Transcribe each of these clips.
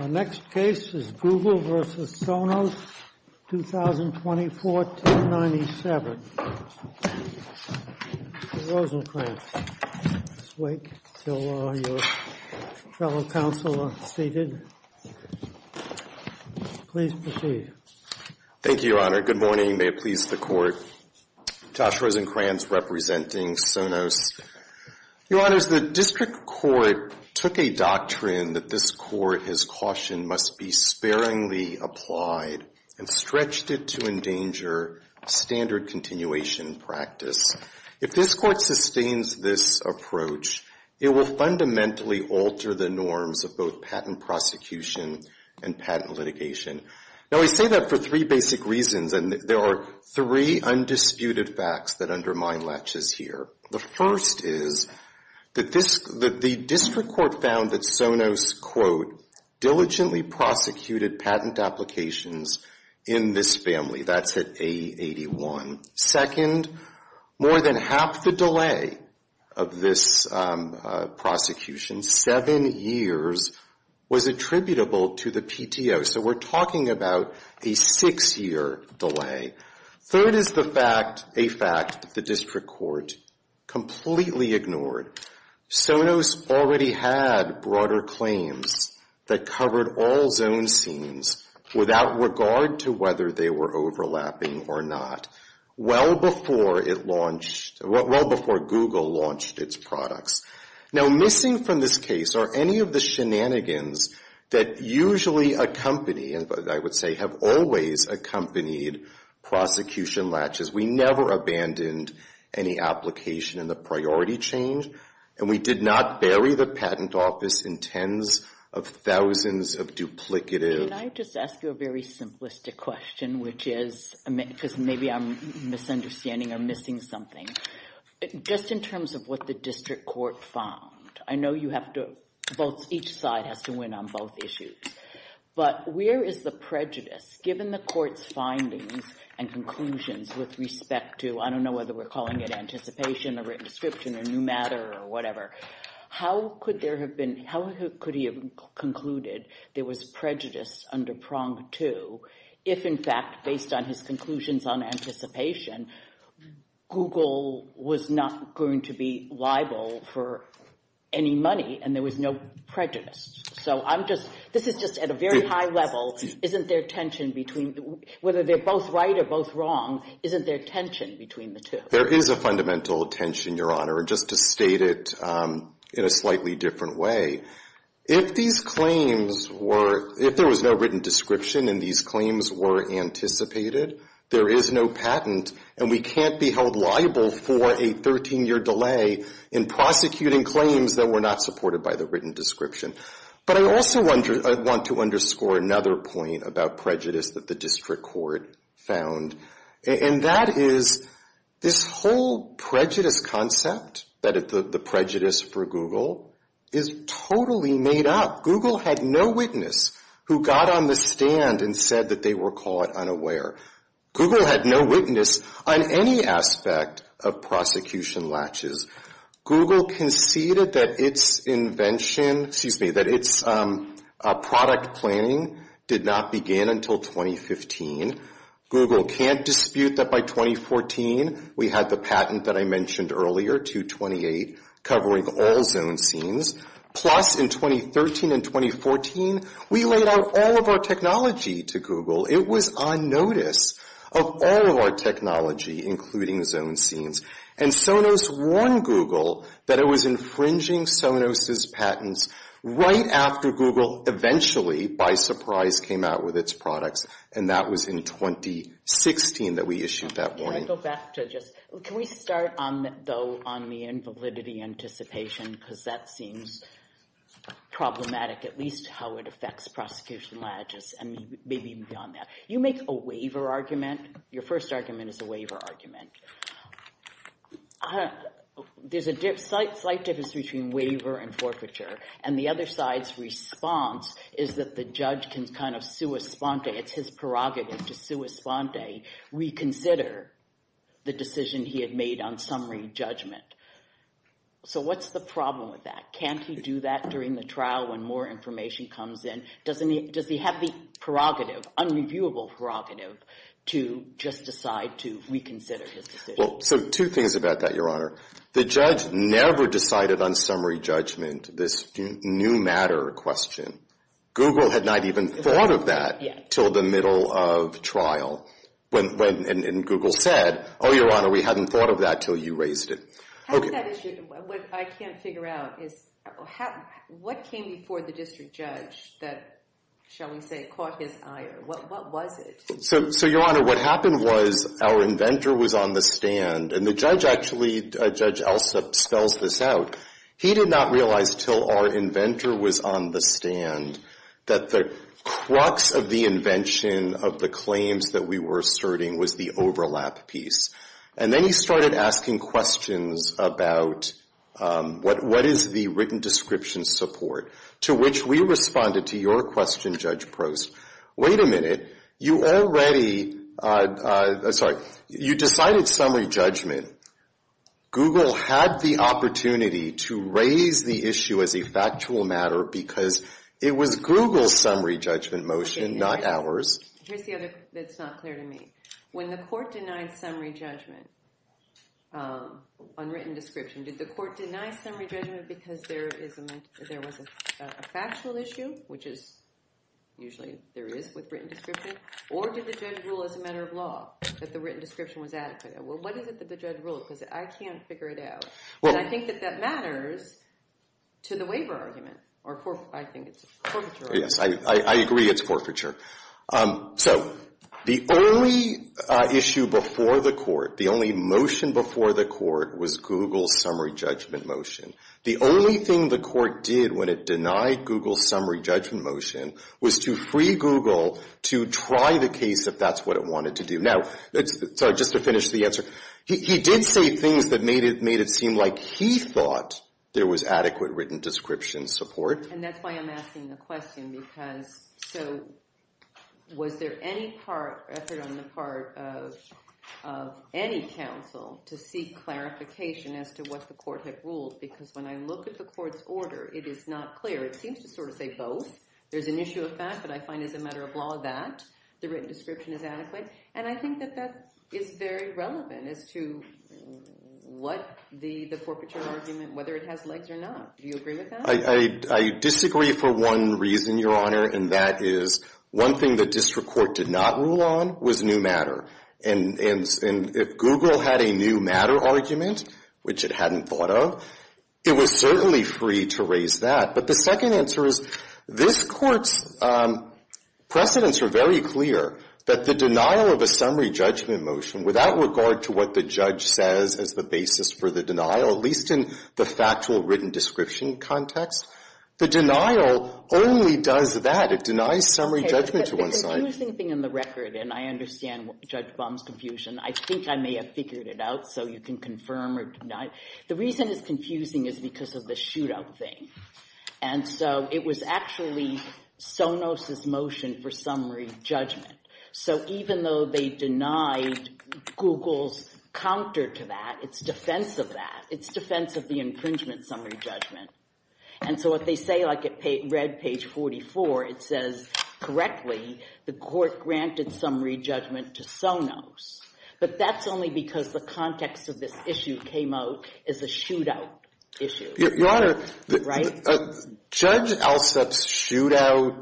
Our next case is Google v. Sonos, 2024-1097. Mr. Rosencrantz, please wait until your fellow counsel are seated. Please proceed. Thank you, Your Honor. Good morning. May it please the Court. Josh Rosencrantz, representing Sonos. Your Honors, the District Court took a doctrine that this Court has cautioned must be sparingly applied and stretched it to endanger standard continuation practice. If this Court sustains this approach, it will fundamentally alter the norms of both patent prosecution and patent litigation. Now, we say that for three basic reasons, and there are three undisputed facts that undermine laches here. The first is that the District Court found that Sonos, quote, diligently prosecuted patent applications in this family. That's at A81. Second, more than half the delay of this prosecution, seven years, was attributable to the PTO. So we're talking about a six-year delay. Third is the fact, a fact, the District Court completely ignored. Sonos already had broader claims that covered all zone scenes without regard to whether they were overlapping or not, well before it launched, well before Google launched its products. Now, missing from this case are any of the shenanigans that usually accompany, and I would say have always accompanied, prosecution laches. We never abandoned any application in the priority change, and we did not bury the patent office in tens of thousands of duplicative. Can I just ask you a very simplistic question, which is, because maybe I'm misunderstanding or missing something. Just in terms of what the District Court found, I know you have to, both, each side has to win on both issues. But where is the prejudice, given the court's findings and conclusions with respect to, I don't know whether we're calling it anticipation or written description or new matter or whatever. How could there have been, how could he have concluded there was prejudice under prong two if, in fact, based on his conclusions on anticipation, Google was not going to be liable for any money and there was no prejudice? So I'm just, this is just at a very high level. Isn't there tension between, whether they're both right or both wrong, isn't there tension between the two? There is a fundamental tension, Your Honor, just to state it in a slightly different way. If these claims were, if there was no written description and these claims were anticipated, there is no patent and we can't be held liable for a 13-year delay in prosecuting claims that were not supported by the written description. But I also want to underscore another point about prejudice that the District Court found. And that is this whole prejudice concept, the prejudice for Google, is totally made up. Google had no witness who got on the stand and said that they were caught unaware. Google had no witness on any aspect of prosecution latches. Google conceded that its invention, excuse me, that its product planning did not begin until 2015. Google can't dispute that by 2014, we had the patent that I mentioned earlier, 228, covering all zone scenes. Plus, in 2013 and 2014, we laid out all of our technology to Google. It was on notice of all of our technology, including zone scenes. And Sonos warned Google that it was infringing Sonos's patents right after Google eventually, by surprise, came out with its products. And that was in 2016 that we issued that warning. Can I go back to just, can we start on the, though, on the invalidity anticipation? Because that seems problematic, at least how it affects prosecution latches and maybe beyond that. You make a waiver argument, your first argument is a waiver argument. There's a slight difference between waiver and forfeiture. And the other side's response is that the judge can kind of sua sponte, it's his prerogative to sua sponte, reconsider the decision he had made on summary judgment. So what's the problem with that? Can't he do that during the trial when more information comes in? Does he have the prerogative, unreviewable prerogative, to just decide to reconsider his decision? Well, so two things about that, Your Honor. The judge never decided on summary judgment, this new matter question. Google had not even thought of that until the middle of trial. And Google said, oh, Your Honor, we hadn't thought of that until you raised it. What I can't figure out is what came before the district judge that, shall we say, caught his ire? What was it? So, Your Honor, what happened was our inventor was on the stand, and the judge actually, Judge Elsa spells this out, he did not realize until our inventor was on the stand that the crux of the invention of the claims that we were asserting was the overlap piece. And then he started asking questions about what is the written description support, to which we responded to your question, Judge Prost, wait a minute, you already, sorry, you decided summary judgment. Google had the opportunity to raise the issue as a factual matter because it was Google's summary judgment motion, not ours. Here's the other that's not clear to me. When the court denied summary judgment on written description, did the court deny summary judgment because there was a factual issue, which is usually there is with written description, or did the judge rule as a matter of law that the written description was adequate? Well, what is it that the judge ruled? Because I can't figure it out. And I think that that matters to the waiver argument, or I think it's forfeiture. Yes, I agree it's forfeiture. So the only issue before the court, the only motion before the court was Google's summary judgment motion. The only thing the court did when it denied Google's summary judgment motion was to free Google to try the case if that's what it wanted to do. Now, sorry, just to finish the answer, he did say things that made it seem like he thought there was adequate written description support. And that's why I'm asking the question because so was there any effort on the part of any counsel to seek clarification as to what the court had ruled? Because when I look at the court's order, it is not clear. It seems to sort of say both. There's an issue of fact that I find is a matter of law that the written description is adequate. And I think that that is very relevant as to what the forfeiture argument, whether it has legs or not. Do you agree with that? I disagree for one reason, Your Honor, and that is one thing the district court did not rule on was new matter. And if Google had a new matter argument, which it hadn't thought of, it was certainly free to raise that. But the second answer is this court's precedents are very clear that the denial of a summary judgment motion, without regard to what the judge says as the basis for the denial, at least in the factual written description context, the denial only does that. It denies summary judgment to one side. The confusing thing in the record, and I understand Judge Baum's confusion, I think I may have figured it out so you can confirm or deny. The reason it's confusing is because of the shootout thing. And so it was actually Sonos' motion for summary judgment. So even though they denied Google's counter to that, it's defense of that. It's defense of the infringement summary judgment. And so what they say, like it read page 44, it says correctly the court granted summary judgment to Sonos. But that's only because the context of this issue came out as a shootout issue. Your Honor, Judge Alsup's shootout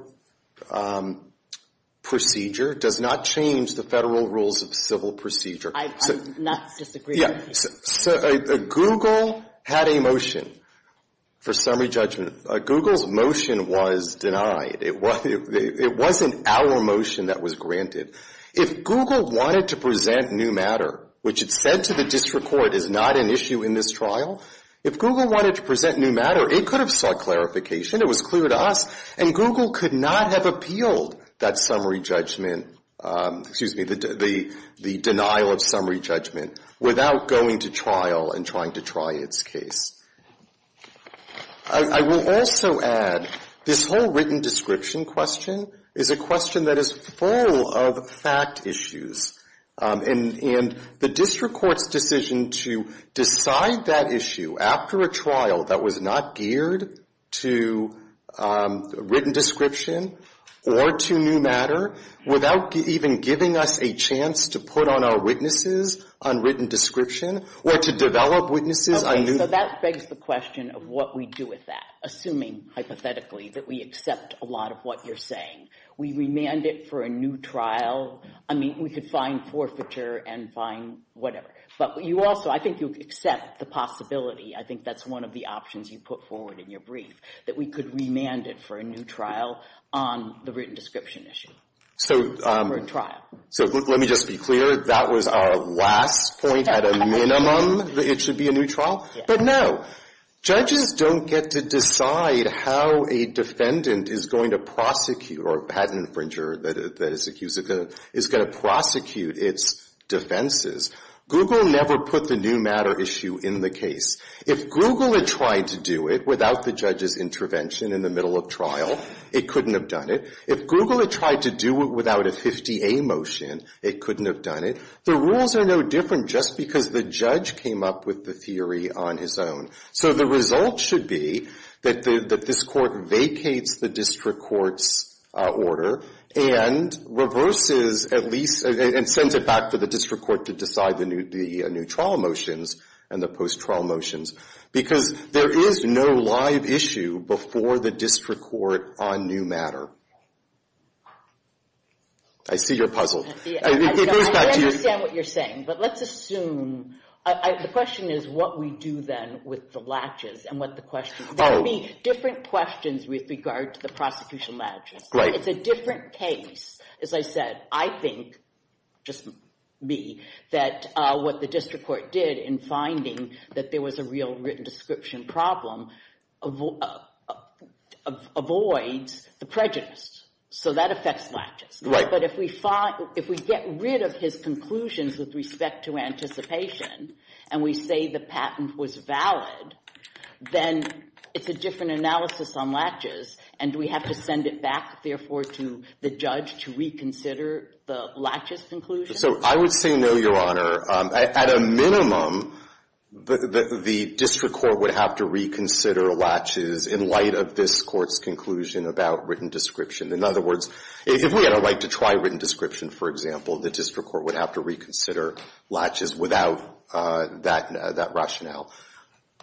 procedure does not change the Federal rules of civil procedure. I'm not disagreeing. Google had a motion for summary judgment. Google's motion was denied. It wasn't our motion that was granted. If Google wanted to present new matter, which it said to the district court is not an issue in this trial, if Google wanted to present new matter, it could have sought clarification. It was clear to us. And Google could not have appealed that summary judgment, excuse me, the denial of summary judgment without going to trial and trying to try its case. I will also add this whole written description question is a question that is full of fact issues. And the district court's decision to decide that issue after a trial that was not geared to written description or to new matter without even giving us a chance to put on our witnesses on written description or to develop witnesses on new matter. Okay, so that begs the question of what we do with that, assuming hypothetically that we accept a lot of what you're saying. We remand it for a new trial. I mean, we could find forfeiture and find whatever. But you also, I think you accept the possibility. I think that's one of the options you put forward in your brief, that we could remand it for a new trial on the written description issue. So let me just be clear. That was our last point at a minimum that it should be a new trial. But no, judges don't get to decide how a defendant is going to prosecute or patent infringer that is accused is going to prosecute its defenses. Google never put the new matter issue in the case. If Google had tried to do it without the judge's intervention in the middle of trial, it couldn't have done it. If Google had tried to do it without a 50A motion, it couldn't have done it. The rules are no different just because the judge came up with the theory on his own. So the result should be that this Court vacates the district court's order and reverses at least and sends it back to the district court to decide the new trial motions and the post-trial motions, because there is no live issue before the district court on new matter. I see you're puzzled. I understand what you're saying, but let's assume... The question is what we do then with the latches and what the question... There will be different questions with regard to the prosecution latches. It's a different case, as I said. I think, just me, that what the district court did in finding that there was a real written description problem, avoids the prejudice. So that affects latches. But if we get rid of his conclusions with respect to anticipation and we say the patent was valid, then it's a different analysis on latches, and we have to send it back, therefore, to the judge to reconsider the latches conclusion? So I would say no, Your Honor. At a minimum, the district court would have to reconsider latches in light of this court's conclusion about written description. In other words, if we had a right to try written description, for example, the district court would have to reconsider latches without that rationale.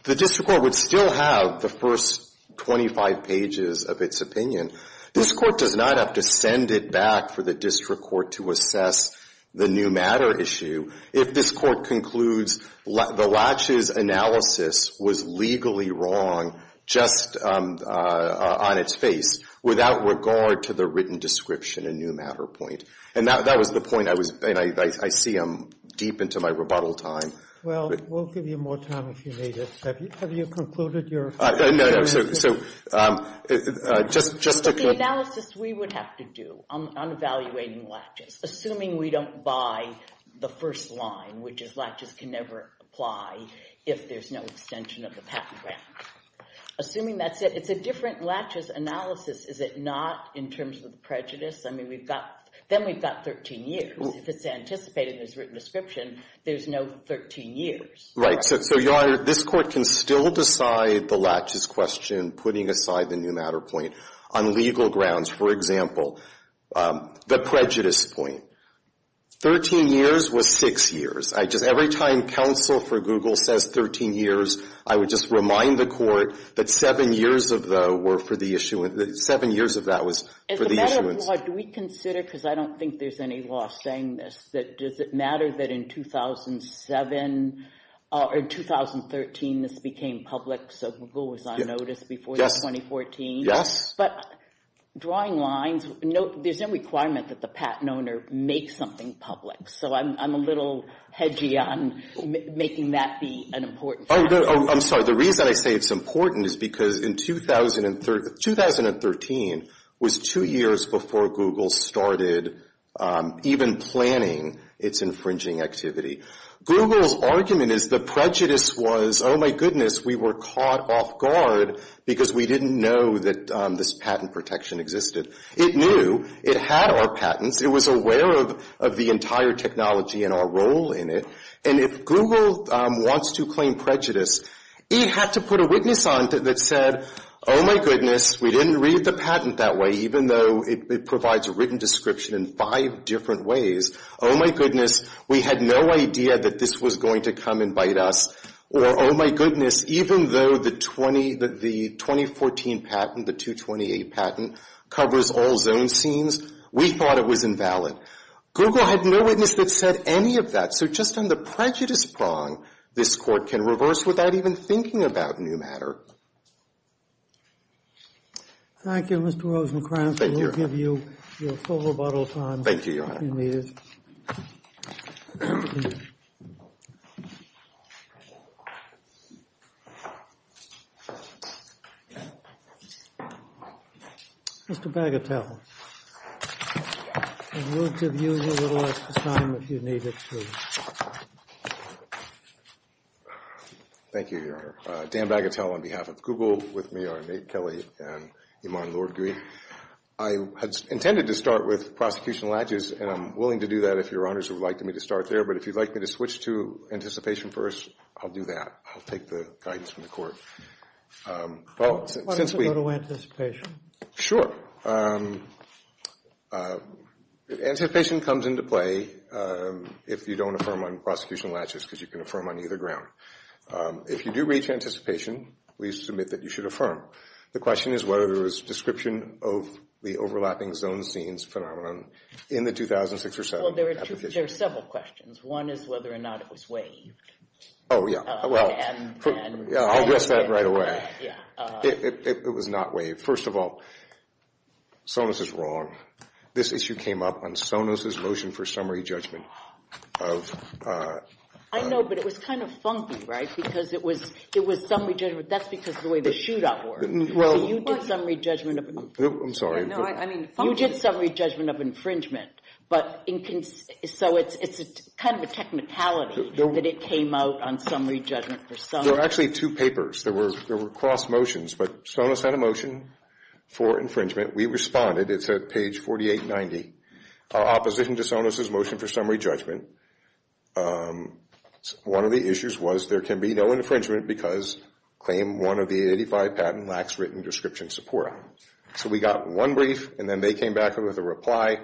The district court would still have the first 25 pages of its opinion. This court does not have to send it back for the district court to assess the new matter issue if this court concludes the latches analysis was legally wrong just on its face without regard to the written description and new matter point. And that was the point I was... And I see I'm deep into my rebuttal time. Well, we'll give you more time if you need it. Have you concluded your... The analysis we would have to do on evaluating latches, assuming we don't buy the first line, which is latches can never apply if there's no extension of the patent grant. Assuming that's it, it's a different latches analysis, is it not, in terms of the prejudice? I mean, we've got... Then we've got 13 years. If it's anticipated there's written description, there's no 13 years. Right. So, Your Honor, this court can still decide the latches question, putting aside the new matter point on legal grounds. For example, the prejudice point. 13 years was 6 years. I just... Every time counsel for Google says 13 years, I would just remind the court that 7 years of the... 7 years of that was for the issuance. As a matter of law, do we consider, because I don't think there's any law saying this, that does it matter that in 2007... Or in 2013 this became public, so Google was on notice before 2014? Yes. But drawing lines, there's no requirement that the patent owner make something public. So I'm a little hedgy on making that be an important factor. I'm sorry. The reason I say it's important is because in 2013 was 2 years before Google started even planning its infringing activity. Google's argument is the prejudice was, oh my goodness, we were caught off guard because we didn't know that this patent protection existed. It knew. It had our patents. It was aware of the entire technology and our role in it. And if Google wants to claim prejudice, it had to put a witness on it that said, oh my goodness, we didn't read the patent that way, even though it provides a written description in five different ways. Oh my goodness, we had no idea that this was going to come and bite us. Or oh my goodness, even though the 2014 patent, the 228 patent, covers all zone scenes, we thought it was invalid. Google had no witness that said any of that. So just on the prejudice prong, this Court can reverse without even thinking about new matter. Thank you, Mr. Rosenkranz. We'll give you your full rebuttal time in a few minutes. I'm going to give you a little extra time if you need it to. Thank you, Your Honor. Dan Bagatelle on behalf of Google. With me are Nate Kelly and Iman Lord-Greene. I had intended to start with prosecutional adjudicates, and I'm willing to do that if Your Honors would like me to start there. But if you'd like me to switch to anticipation first, I'll do that. I'll take the guidance from the Court. Why don't we go to anticipation? Sure. Anticipation comes into play if you don't affirm on prosecutional adjudicates, because you can affirm on either ground. If you do reach anticipation, please submit that you should affirm. The question is whether there was description of the overlapping zone scenes phenomenon in the 2006 or 2007 application. Well, there are several questions. One is whether or not it was waived. I'll address that right away. It was not waived. First of all, Sonos is wrong. This issue came up on Sonos' motion for summary judgment. I know, but it was kind of funky, right? Because it was summary judgment. That's because of the way the shootout worked. You did summary judgment of infringement. So it's kind of a technicality that it came out on summary judgment. There were actually two papers. There were cross motions, but Sonos had a motion for infringement. We responded. It's at page 4890. Opposition to Sonos' motion for summary judgment. One of the issues was there can be no infringement because claim one of the 85 patent lacks written description support. So we got one brief, and then they came back with a reply.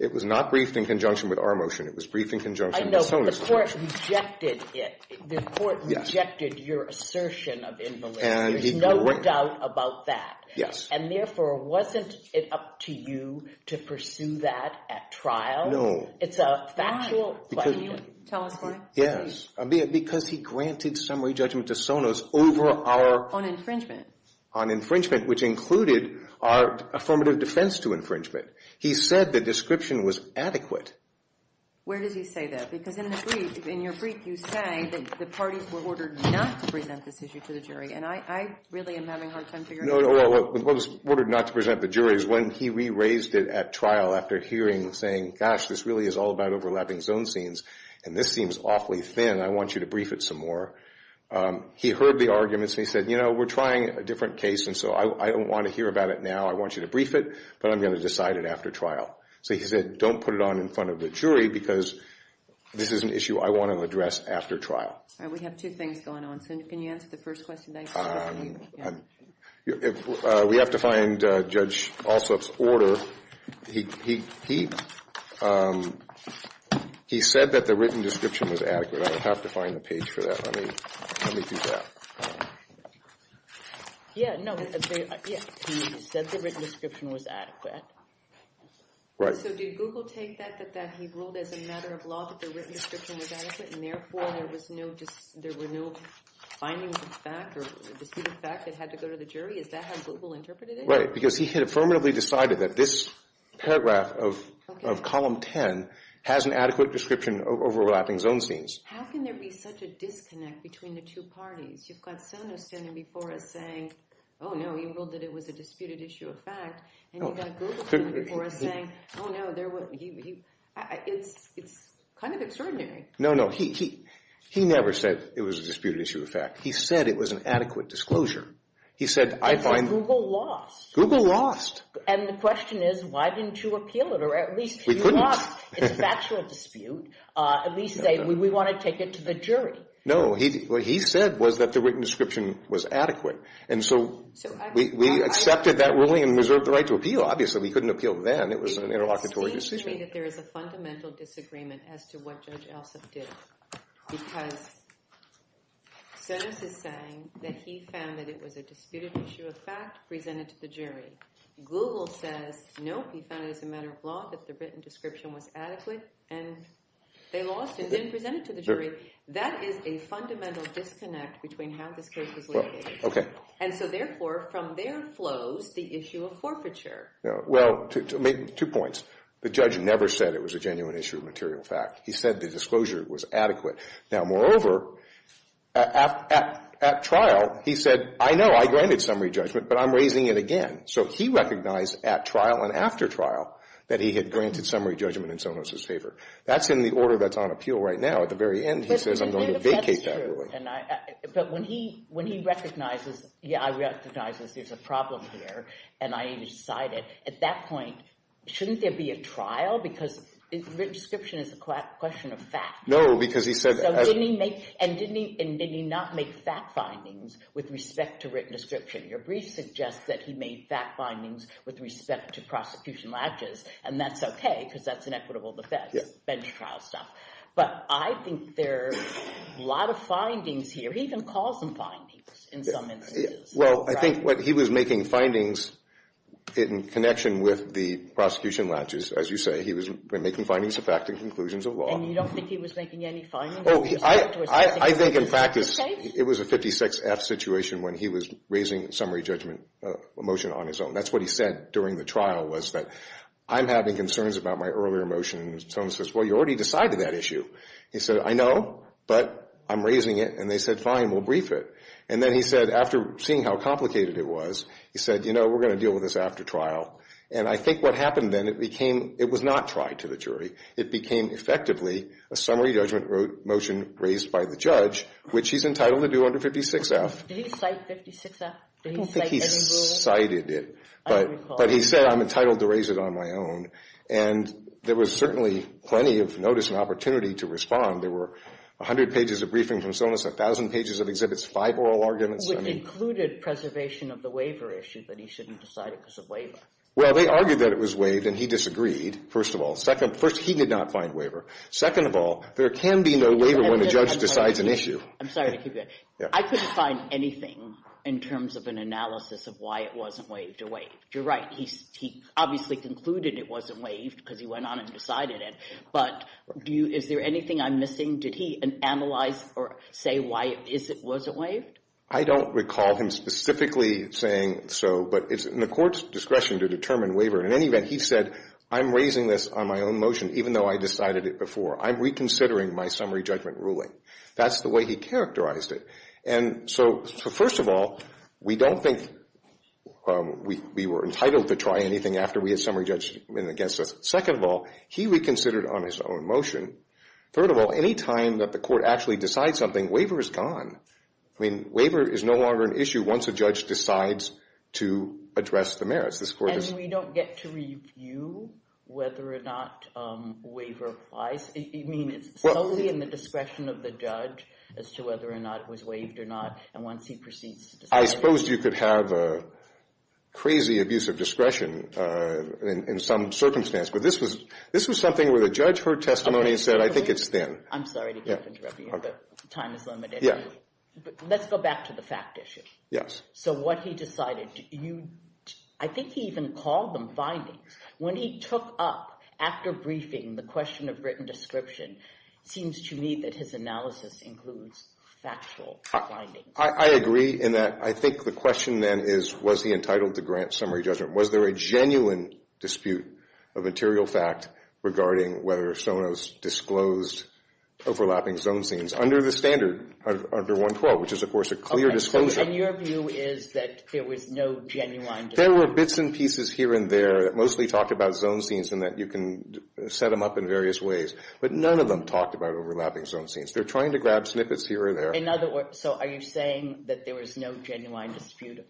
It was not briefed in conjunction with our motion. It was briefed in conjunction with Sonos' motion. I know, but the court rejected it. The court rejected your assertion of invalidity. There's no doubt about that. And therefore, wasn't it up to you to pursue that at trial? No. Why? Can you tell us why? Because he granted summary judgment to Sonos over our... On infringement. On infringement, which included our affirmative defense to infringement. He said the description was adequate. Where did he say that? Because in the brief, in your brief, you say that the parties were ordered not to present this issue to the jury. And I really am having a hard time figuring out... What was ordered not to present the jury is when he re-raised it at trial after hearing, saying, gosh, this really is all about overlapping zone scenes, and this seems awfully thin. I want you to brief it some more. He heard the arguments, and he said, you know, we're trying a different case, and so I don't want to hear about it now. I want you to brief it, but I'm going to decide it after trial. So he said, don't put it on in front of the jury, because this is an issue I want to address after trial. We have two things going on. Cindy, can you answer the first question? We have to find Judge Alsup's order. He said that the written description was adequate. I have to find the page for that. Let me do that. He said the written description was adequate. So did Google take that, that he ruled as a matter of law that the written description was adequate, and therefore there were no findings of fact or deceit of fact that had to go to the jury? Is that how Google interpreted it? Right, because he had affirmatively decided that this paragraph of column 10 has an adequate description of overlapping zone scenes. How can there be such a disconnect between the two parties? You've got Sono standing before us saying, oh, no, he ruled that it was a disputed issue of fact, and you've got Google standing before us saying, oh, no, it's kind of extraordinary. No, no, he never said it was a disputed issue of fact. He said it was an adequate disclosure. Google lost. And the question is, why didn't you appeal it? Or at least you lost. It's a factual dispute. At least we want to take it to the jury. No, what he said was that the written description was adequate. And so we accepted that ruling and reserved the right to appeal. Obviously, we couldn't appeal then. It was an interlocutory decision. It seems to me that there is a fundamental disagreement as to what Judge Elson did. Because Sonos is saying that he found that it was a disputed issue of fact presented to the jury. Google says, nope, he found it as a matter of law that the written description was adequate. And they lost and didn't present it to the jury. That is a fundamental disconnect between how this case was located. And so, therefore, from there flows the issue of forfeiture. Two points. The judge never said it was a genuine issue of material fact. He said the disclosure was adequate. Now, moreover, at trial, he said, I know I granted summary judgment, but I'm raising it again. So he recognized at trial and after trial that he had granted summary judgment in Sonos' favor. That's in the order that's on appeal right now. At the very end, he says, I'm going to vacate that ruling. But when he recognizes, yeah, I recognize there's a problem here, and I decide it, at that point, shouldn't there be a trial? Because written description is a question of fact. And did he not make fact findings with respect to written description? Your brief suggests that he made fact findings with respect to prosecution latches. And that's okay, because that's an equitable defense, bench trial stuff. But I think there are a lot of findings here. He even calls them findings in some instances. Well, I think what he was making findings in connection with the prosecution latches, as you say, he was making findings of fact and conclusions of law. And you don't think he was making any findings? I think, in fact, it was a 56-F situation when he was raising summary judgment motion on his own. That's what he said during the trial was that I'm having concerns about my earlier motion. And Sonos says, well, you already decided that issue. He said, I know, but I'm raising it. And they said, fine, we'll brief it. And then he said, after seeing how complicated it was, he said, you know, we're going to deal with this after trial. And I think what happened then, it was not tried to the jury. It became effectively a summary judgment motion raised by the judge, which he's entitled to do under 56-F. Did he cite 56-F? Did he cite any rule? I don't think he cited it. But he said, I'm entitled to raise it on my own. And there was certainly plenty of notice and opportunity to respond. There were 100 pages of briefing from Sonos, 1,000 pages of exhibits, five oral arguments. Which included preservation of the waiver issue, that he shouldn't decide it because of waiver. Well, they argued that it was waived, and he disagreed, first of all. First, he did not find waiver. Second of all, there can be no waiver when the judge decides an issue. I'm sorry to keep you. I couldn't find anything in terms of an analysis of why it wasn't waived or waived. You're right. He obviously concluded it wasn't waived because he went on and decided it. But is there anything I'm missing? Did he analyze or say why it wasn't waived? I don't recall him specifically saying so. But it's in the court's discretion to determine waiver. In any event, he said, I'm raising this on my own motion, even though I decided it before. I'm reconsidering my summary judgment ruling. That's the way he characterized it. And so first of all, we don't think we were entitled to try anything after we had summary judgment against us. Second of all, he reconsidered on his own motion. Third of all, any time that the court actually decides something, waiver is gone. I mean, waiver is no longer an issue once a judge decides to address the merits. And we don't get to review whether or not waiver applies? I mean, it's solely in the discretion of the judge as to whether or not it was waived or not. And once he proceeds to decide. I suppose you could have a crazy abuse of discretion in some circumstance. But this was something where the judge heard testimony and said, I think it's then. I'm sorry to keep interrupting you, but time is limited. Let's go back to the fact issue. So what he decided, I think he even called them findings. When he took up after briefing the question of written description, it seems to me that his analysis includes factual findings. I agree in that I think the question then is, was he entitled to grant summary judgment? Was there a genuine dispute of material fact regarding whether Sonos disclosed overlapping zone scenes? That's under the standard, under 112, which is, of course, a clear disclosure. And your view is that there was no genuine dispute? There were bits and pieces here and there that mostly talked about zone scenes and that you can set them up in various ways. But none of them talked about overlapping zone scenes. They're trying to grab snippets here or there. So are you saying that there was no genuine dispute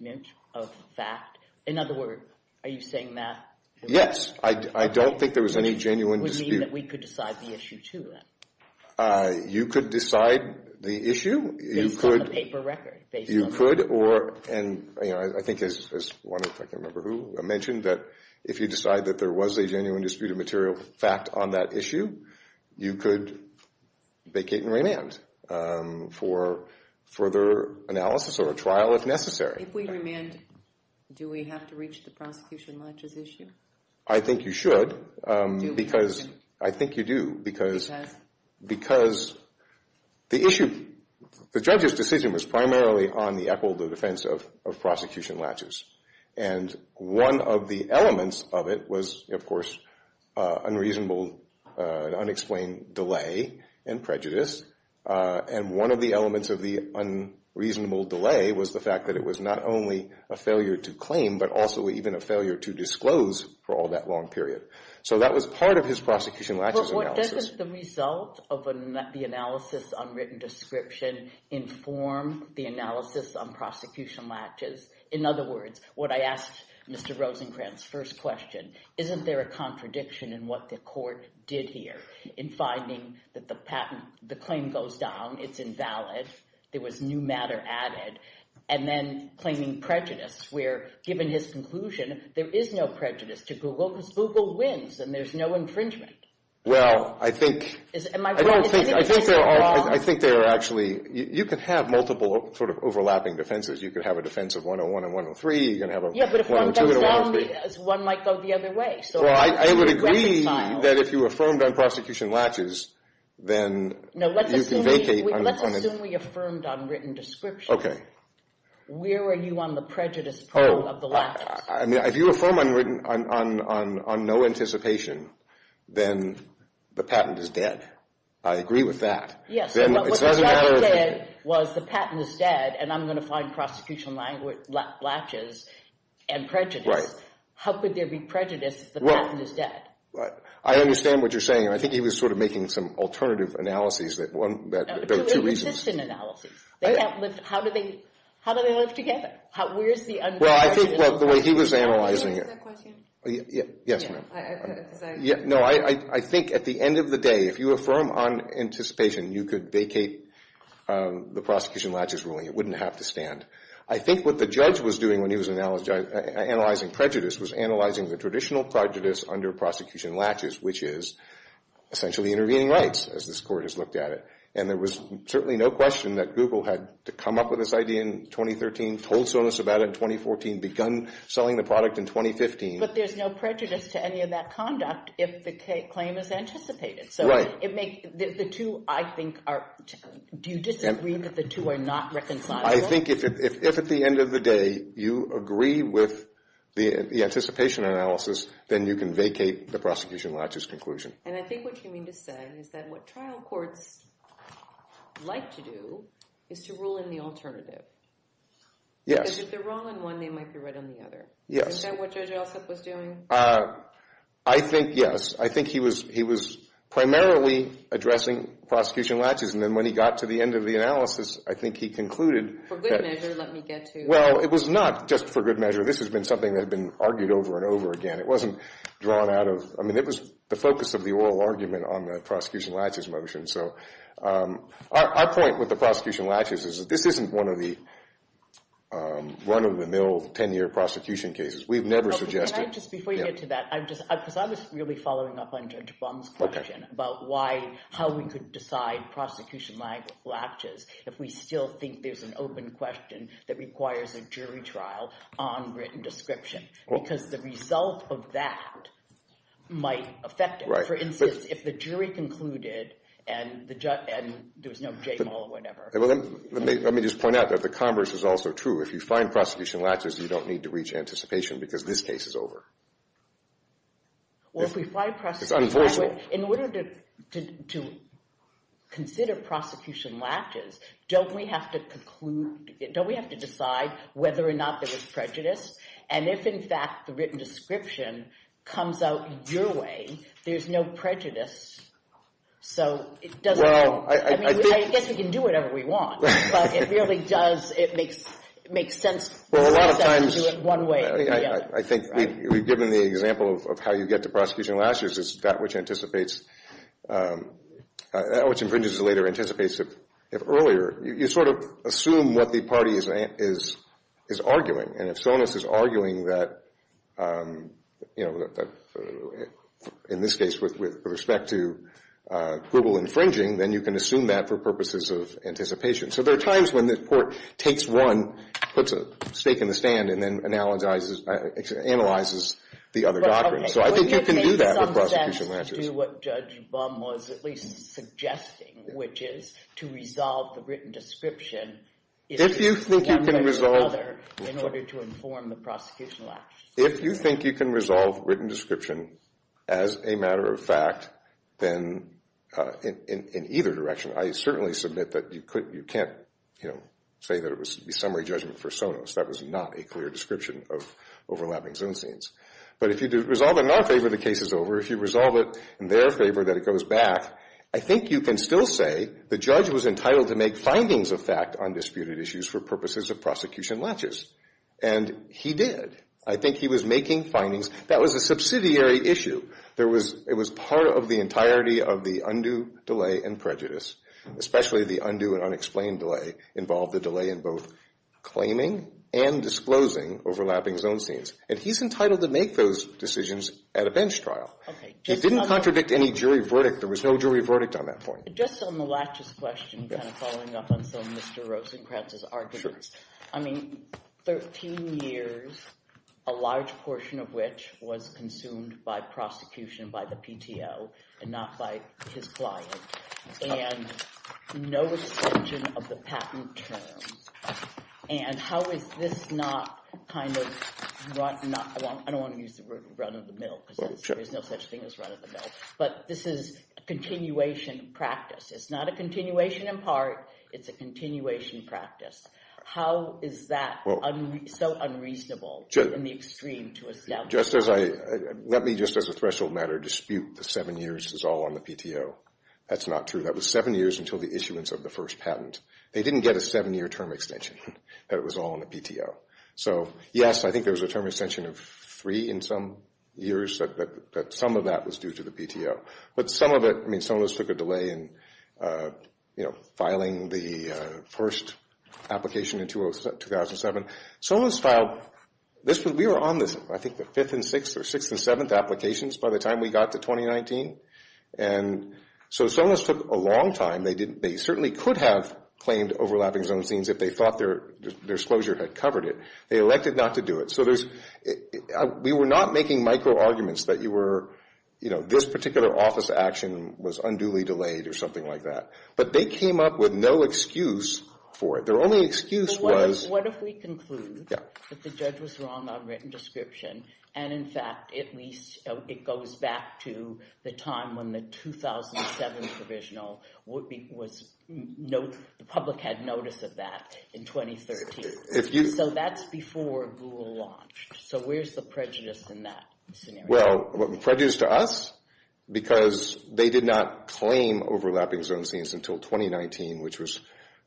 of fact? In other words, are you saying that? Yes. I don't think there was any genuine dispute. Which would mean that we could decide the issue, too, then? You could decide the issue. Based on the paper record. You could. And I think, as one, if I can remember who, mentioned, that if you decide that there was a genuine dispute of material fact on that issue, you could vacate and remand for further analysis or a trial if necessary. If we remand, do we have to reach the prosecution on this issue? I think you should. Do we? Because I think you do. Because the issue, the judge's decision was primarily on the equal defense of prosecution latches. And one of the elements of it was, of course, unreasonable, unexplained delay and prejudice. And one of the elements of the unreasonable delay was the fact that it was not only a failure to claim, but also even a failure to disclose for all that long period. So that was part of his prosecution latches analysis. But doesn't the result of the analysis on written description inform the analysis on prosecution latches? In other words, what I asked Mr. Rosencrantz's first question, isn't there a contradiction in what the court did here in finding that the patent, the claim goes down, it's invalid, there was new matter added, and then claiming prejudice where, given his conclusion, there is no prejudice to Google because Google wins and there's no infringement. Well, I think there are actually, you can have multiple sort of overlapping defenses. You can have a defense of 101 and 103. Yeah, but if one goes down, one might go the other way. Well, I would agree that if you affirmed on prosecution latches, then you can vacate. No, let's assume we affirmed on written description. Okay. Where are you on the prejudice problem of the latches? I mean, if you affirm on no anticipation, then the patent is dead. I agree with that. Yes. Then it doesn't matter. But what the judge did was the patent is dead, and I'm going to find prosecution latches and prejudice. Right. How could there be prejudice if the patent is dead? Well, I understand what you're saying, and I think he was sort of making some alternative analyses that one, two reasons. No, two inconsistent analyses. Okay. How do they live together? Well, I think the way he was analyzing it. Yes, ma'am. No, I think at the end of the day, if you affirm on anticipation, you could vacate the prosecution latches ruling. It wouldn't have to stand. I think what the judge was doing when he was analyzing prejudice was analyzing the traditional prejudice under prosecution latches, which is essentially intervening rights, as this court has looked at it. And there was certainly no question that Google had to come up with this idea in 2013, told Sonos about it in 2014, begun selling the product in 2015. But there's no prejudice to any of that conduct if the claim is anticipated. Right. So the two, I think, are – do you disagree that the two are not reconcilable? I think if at the end of the day you agree with the anticipation analysis, then you can vacate the prosecution latches conclusion. And I think what you mean to say is that what trial courts like to do is to rule in the alternative. Yes. Because if they're wrong on one, they might be right on the other. Yes. Isn't that what Judge Alsup was doing? I think, yes. I think he was primarily addressing prosecution latches. And then when he got to the end of the analysis, I think he concluded that – For good measure, let me get to – Well, it was not just for good measure. This has been something that had been argued over and over again. It wasn't drawn out of – I mean, it was the focus of the oral argument on the prosecution latches motion. So our point with the prosecution latches is that this isn't one of the run-of-the-mill 10-year prosecution cases. We've never suggested – Can I just – before you get to that, I'm just – because I was really following up on Judge Bum's question about why – how we could decide prosecution latches if we still think there's an open question that requires a jury trial on written description. Because the result of that might affect it. For instance, if the jury concluded and the – and there was no jail or whatever. Let me just point out that the converse is also true. If you find prosecution latches, you don't need to reach anticipation because this case is over. Well, if we find – It's unenforceable. In order to consider prosecution latches, don't we have to conclude – don't we have to decide whether or not there was prejudice? And if, in fact, the written description comes out your way, there's no prejudice. So it doesn't have – Well, I think – I mean, I guess we can do whatever we want. But it really does – it makes sense to do it one way or the other. I think we've given the example of how you get to prosecution latches is that which anticipates – that which infringes later anticipates it earlier. You sort of assume what the party is arguing. And if Sonis is arguing that, you know, in this case with respect to global infringing, then you can assume that for purposes of anticipation. So there are times when the court takes one, puts a stake in the stand, and then analyzes the other doctrine. So I think you can do that with prosecution latches. But, okay, wouldn't it make some sense to do what Judge Bum was at least suggesting, which is to resolve the written description – If you think you can resolve – One way or the other in order to inform the prosecution latches. If you think you can resolve written description as a matter of fact, then in either direction. I certainly submit that you can't, you know, say that it was summary judgment for Sonis. That was not a clear description of overlapping Zoom scenes. But if you resolve it in our favor, the case is over. If you resolve it in their favor, that it goes back. I think you can still say the judge was entitled to make findings of fact on disputed issues for purposes of prosecution latches. And he did. I think he was making findings. That was a subsidiary issue. It was part of the entirety of the undue delay and prejudice, especially the undue and unexplained delay involved the delay in both claiming and disclosing overlapping Zoom scenes. And he's entitled to make those decisions at a bench trial. He didn't contradict any jury verdict. There was no jury verdict on that point. Just on the latches question, kind of following up on some of Mr. Rosenkranz's arguments. I mean, 13 years, a large portion of which was consumed by prosecution by the PTO and not by his client. And no extension of the patent terms. And how is this not kind of – I don't want to use the word run of the mill because there's no such thing as run of the mill. But this is a continuation practice. It's not a continuation in part. It's a continuation practice. How is that so unreasonable in the extreme to establish? Let me just as a threshold matter dispute the seven years is all on the PTO. That's not true. That was seven years until the issuance of the first patent. They didn't get a seven-year term extension. It was all on the PTO. So, yes, I think there was a term extension of three in some years that some of that was due to the PTO. But some of it – I mean, Sonos took a delay in, you know, filing the first application in 2007. Sonos filed – we were on this, I think, the fifth and sixth or sixth and seventh applications by the time we got to 2019. And so Sonos took a long time. They didn't – they certainly could have claimed overlapping zone scenes if they thought their disclosure had covered it. They elected not to do it. So there's – we were not making micro-arguments that you were – you know, this particular office action was unduly delayed or something like that. But they came up with no excuse for it. Their only excuse was – What if we conclude that the judge was wrong on written description and, in fact, at least it goes back to the time when the 2007 provisional was – the public had notice of that in 2013? So that's before Google launched. So where's the prejudice in that scenario? Well, prejudice to us? Because they did not claim overlapping zone scenes until 2019, which was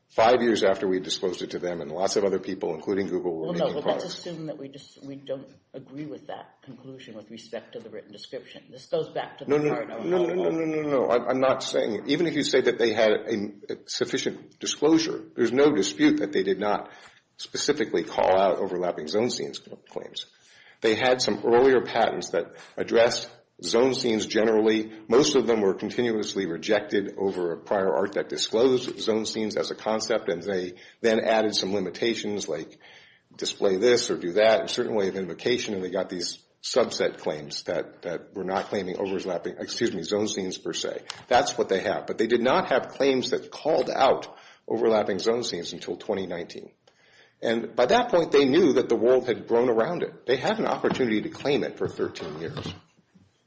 five years after we disclosed it to them and lots of other people, including Google. Well, no, let's assume that we don't agree with that conclusion with respect to the written description. This goes back to the part – No, no, no, no, no, no, no, no. I'm not saying – even if you say that they had sufficient disclosure, there's no dispute that they did not specifically call out overlapping zone scenes claims. They had some earlier patents that addressed zone scenes generally. Most of them were continuously rejected over a prior art that disclosed zone scenes as a concept, and they then added some limitations like display this or do that, a certain way of invocation, and they got these subset claims that were not claiming overlapping – excuse me, zone scenes per se. That's what they have. But they did not have claims that called out overlapping zone scenes until 2019. And by that point, they knew that the world had grown around it. They had an opportunity to claim it for 13 years,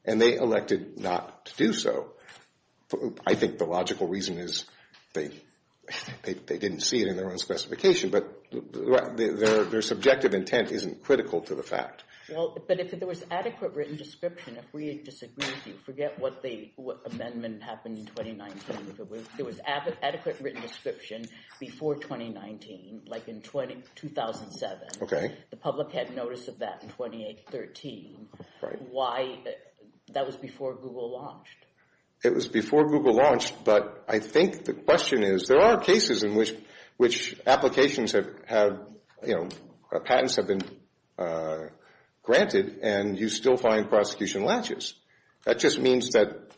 and they elected not to do so. I think the logical reason is they didn't see it in their own specification, but their subjective intent isn't critical to the fact. Well, but if there was adequate written description, if we disagree with you, forget what amendment happened in 2019. If it was adequate written description before 2019, like in 2007, the public had notice of that in 2013. Right. Why – that was before Google launched. It was before Google launched, but I think the question is there are cases in which applications have – you know, patents have been granted, and you still find prosecution latches. That just means that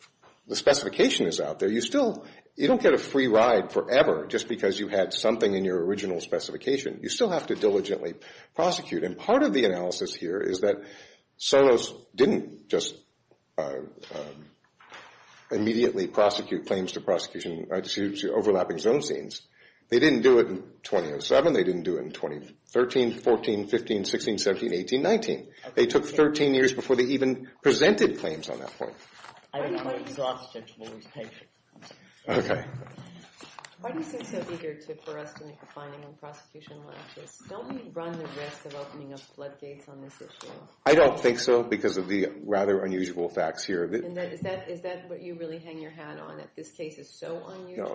the specification is out there. You still – you don't get a free ride forever just because you had something in your original specification. You still have to diligently prosecute. And part of the analysis here is that Solos didn't just immediately prosecute claims to prosecution – to overlapping zone scenes. They didn't do it in 2007. They didn't do it in 2013, 14, 15, 16, 17, 18, 19. They took 13 years before they even presented claims on that point. I'm exhausted. We'll be patient. Okay. Why do you seem so eager for us to make a finding on prosecution latches? Don't we run the risk of opening up floodgates on this issue? I don't think so because of the rather unusual facts here. Is that what you really hang your hat on, that this case is so unusual?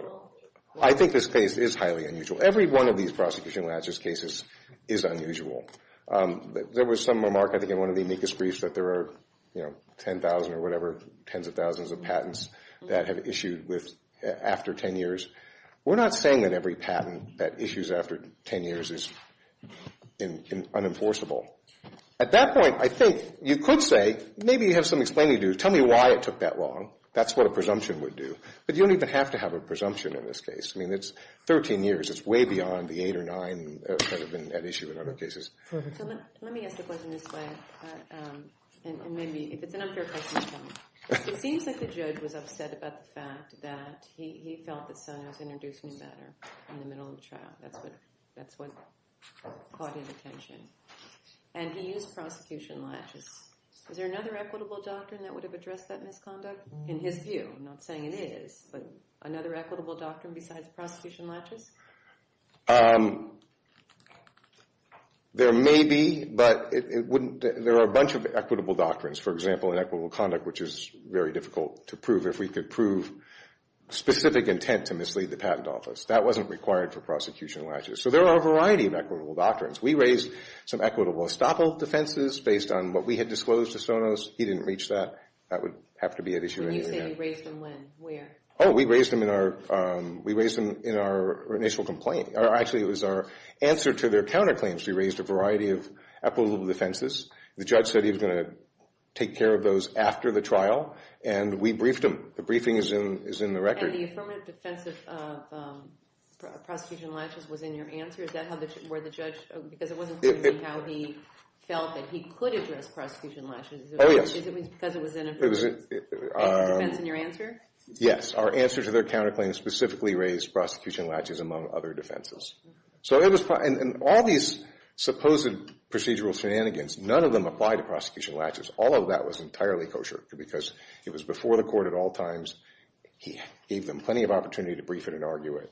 No, no. I think this case is highly unusual. Every one of these prosecution latches cases is unusual. There was some remark, I think, in one of the amicus briefs that there are, you know, 10,000 or whatever, tens of thousands of patents that have issued after 10 years. We're not saying that every patent that issues after 10 years is unenforceable. At that point, I think you could say maybe you have some explaining to do. Tell me why it took that long. That's what a presumption would do. But you don't even have to have a presumption in this case. I mean, it's 13 years. It's way beyond the eight or nine that have been at issue in other cases. So let me ask the question this way, and maybe if it's an unfair question, it's fine. It seems like the judge was upset about the fact that he felt that Sonia was introduced to him better in the middle of the trial. That's what caught his attention. And he used prosecution latches. Is there another equitable doctrine that would have addressed that misconduct? In his view, I'm not saying it is, but another equitable doctrine besides prosecution latches? There may be, but there are a bunch of equitable doctrines. For example, in equitable conduct, which is very difficult to prove, if we could prove specific intent to mislead the patent office. That wasn't required for prosecution latches. So there are a variety of equitable doctrines. We raised some equitable estoppel defenses based on what we had disclosed to Sonos. He didn't reach that. That would have to be at issue anyway. When you say you raised them when? Where? Oh, we raised them in our initial complaint. Actually, it was our answer to their counterclaims. We raised a variety of equitable defenses. The judge said he was going to take care of those after the trial, and we briefed them. The briefing is in the record. And the affirmative defense of prosecution latches was in your answer? Because it wasn't clear to me how he felt that he could address prosecution latches. Oh, yes. Because it was in your answer? Yes. Our answer to their counterclaims specifically raised prosecution latches among other defenses. So it was fine. And all these supposed procedural shenanigans, none of them applied to prosecution latches. All of that was entirely kosher because it was before the court at all times. He gave them plenty of opportunity to brief it and argue it.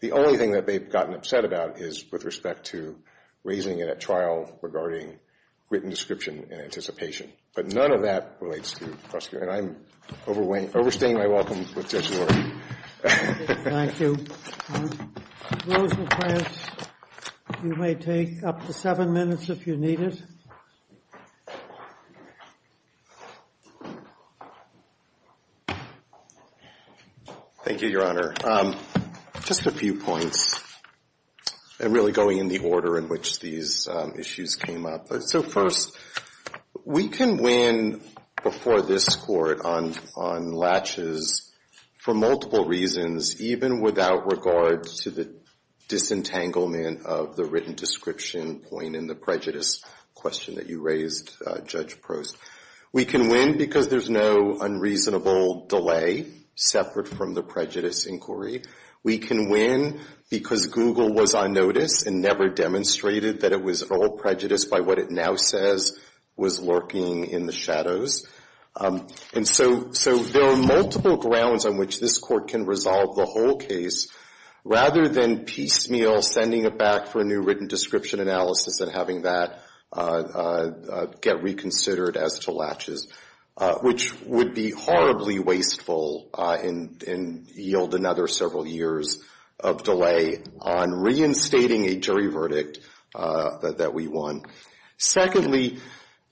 The only thing that they've gotten upset about is with respect to raising it at trial regarding written description and anticipation. But none of that relates to prosecution. And I'm overstaying my welcome with Judge Lord. Thank you. Closing comments. You may take up to seven minutes if you need it. Thank you, Your Honor. Just a few points. And really going in the order in which these issues came up. So first, we can win before this Court on latches for multiple reasons, even without regard to the disentanglement of the written description point in the prejudice question that you raised, Judge Prost. We can win because there's no unreasonable delay separate from the prejudice inquiry. We can win because Google was on notice and never demonstrated that it was all prejudice by what it now says was lurking in the shadows. And so there are multiple grounds on which this Court can resolve the whole case, rather than piecemeal sending it back for a new written description analysis and having that get reconsidered as to latches, which would be horribly wasteful and yield another several years of delay on reinstating a jury verdict that we won. Secondly,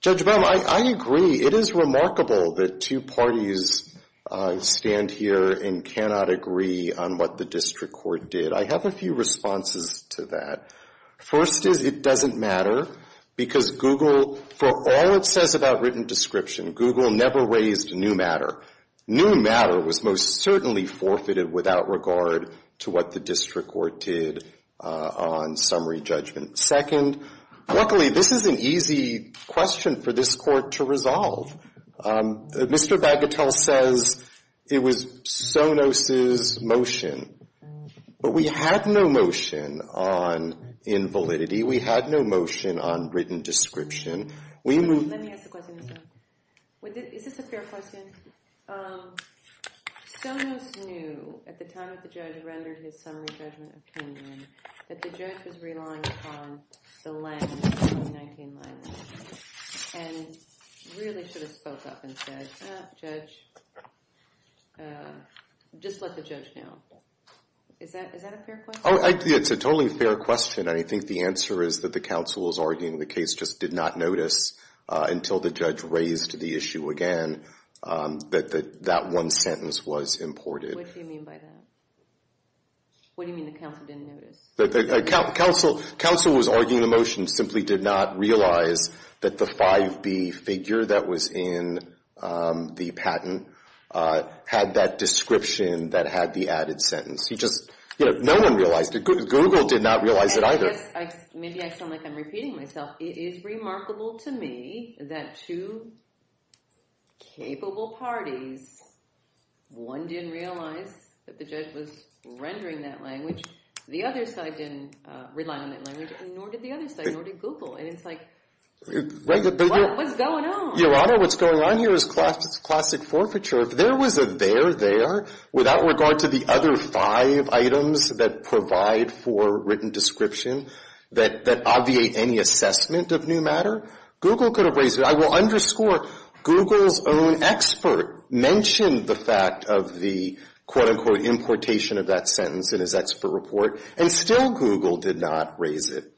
Judge Baum, I agree. It is remarkable that two parties stand here and cannot agree on what the district court did. I have a few responses to that. First is it doesn't matter because Google, for all it says about written description, Google never raised new matter. New matter was most certainly forfeited without regard to what the district court did on summary judgment. Second, luckily, this is an easy question for this Court to resolve. Mr. Bagatelle says it was Sonos's motion, but we had no motion on invalidity. We had no motion on written description. Let me ask a question. Is this a fair question? Sonos knew at the time that the judge rendered his summary judgment opinion that the judge was relying upon the length, the 2019 length, and really should have spoke up and said, Judge, just let the judge know. Is that a fair question? It's a totally fair question. I think the answer is that the counsel was arguing the case just did not notice until the judge raised the issue again that that one sentence was imported. What do you mean by that? What do you mean the counsel didn't notice? The counsel was arguing the motion, simply did not realize that the 5B figure that was in the patent had that description that had the added sentence. No one realized it. Google did not realize it either. Maybe I sound like I'm repeating myself. It is remarkable to me that two capable parties, one didn't realize that the judge was rendering that language. The other side didn't rely on that language, nor did the other side, nor did Google. And it's like, what's going on? Your Honor, what's going on here is classic forfeiture. If there was a there there without regard to the other five items that provide for written description that obviate any assessment of new matter, Google could have raised it. I will underscore, Google's own expert mentioned the fact of the, quote-unquote, importation of that sentence in his expert report, and still Google did not raise it.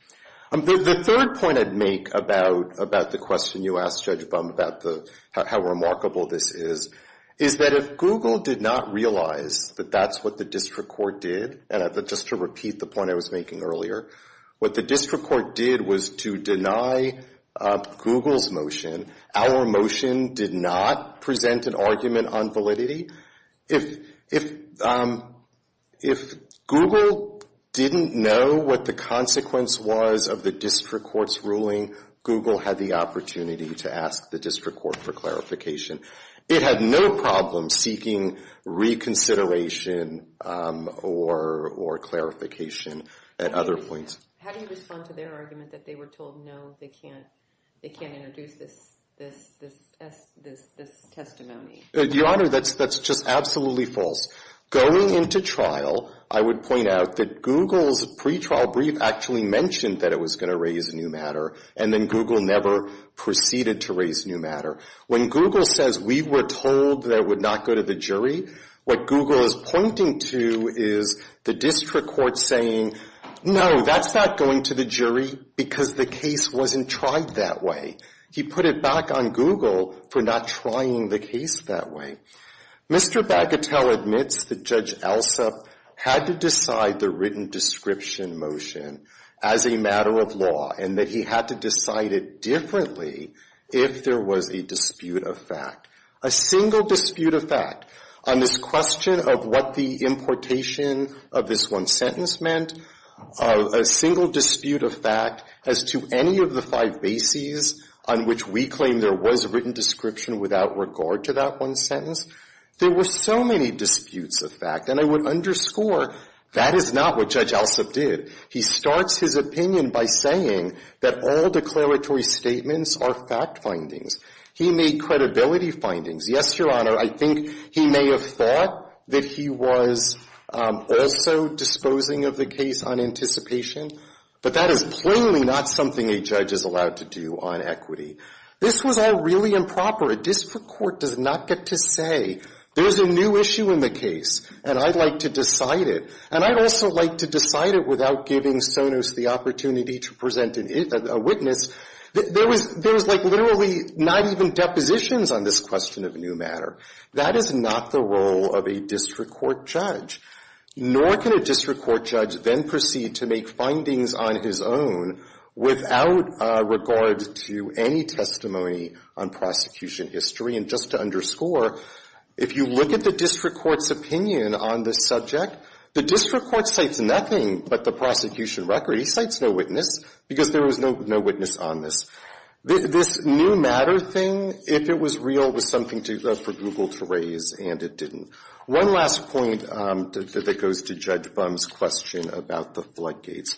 The third point I'd make about the question you asked Judge Bum about how remarkable this is, is that if Google did not realize that that's what the district court did, and just to repeat the point I was making earlier, what the district court did was to deny Google's motion. Our motion did not present an argument on validity. If Google didn't know what the consequence was of the district court's ruling, Google had the opportunity to ask the district court for clarification. It had no problem seeking reconsideration or clarification at other points. How do you respond to their argument that they were told no, they can't introduce this testimony? Your Honor, that's just absolutely false. Going into trial, I would point out that Google's pretrial brief actually mentioned that it was going to raise new matter, and then Google never proceeded to raise new matter. When Google says we were told that it would not go to the jury, what Google is pointing to is the district court saying, no, that's not going to the jury, because the case wasn't tried that way. He put it back on Google for not trying the case that way. Mr. Bagatelle admits that Judge Alsop had to decide the written description motion as a matter of law, and that he had to decide it differently if there was a dispute of fact. A single dispute of fact on this question of what the importation of this one sentence meant, a single dispute of fact as to any of the five bases on which we claim there was a written description without regard to that one sentence, there were so many disputes of fact. And I would underscore, that is not what Judge Alsop did. He starts his opinion by saying that all declaratory statements are fact findings. He made credibility findings. Yes, Your Honor, I think he may have thought that he was also disposing of the case on anticipation, but that is plainly not something a judge is allowed to do on equity. This was all really improper. A district court does not get to say, there's a new issue in the case, and I'd like to decide it. And I'd also like to decide it without giving Sonos the opportunity to present a witness. There was like literally not even depositions on this question of new matter. That is not the role of a district court judge, nor can a district court judge then proceed to make findings on his own without regard to any testimony on prosecution history. And just to underscore, if you look at the district court's opinion on this subject, the district court cites nothing but the prosecution record. He cites no witness because there was no witness on this. This new matter thing, if it was real, was something for Google to raise, and it didn't. One last point that goes to Judge Bum's question about the floodgates.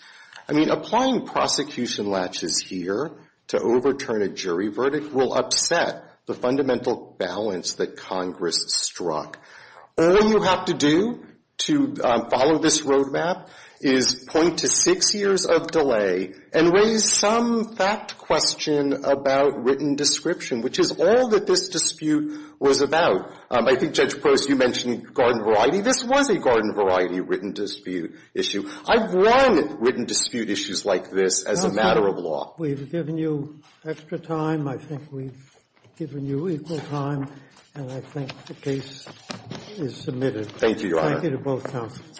I mean, applying prosecution latches here to overturn a jury verdict will upset the fundamental balance that Congress struck. All you have to do to follow this roadmap is point to six years of delay and raise some fact question about written description, which is all that this dispute was about. I think, Judge Prost, you mentioned garden variety. This was a garden variety written dispute issue. I've run written dispute issues like this as a matter of law. We've given you extra time. I think we've given you equal time. And I think the case is submitted. Thank you, Your Honor. Thank you to both counsels.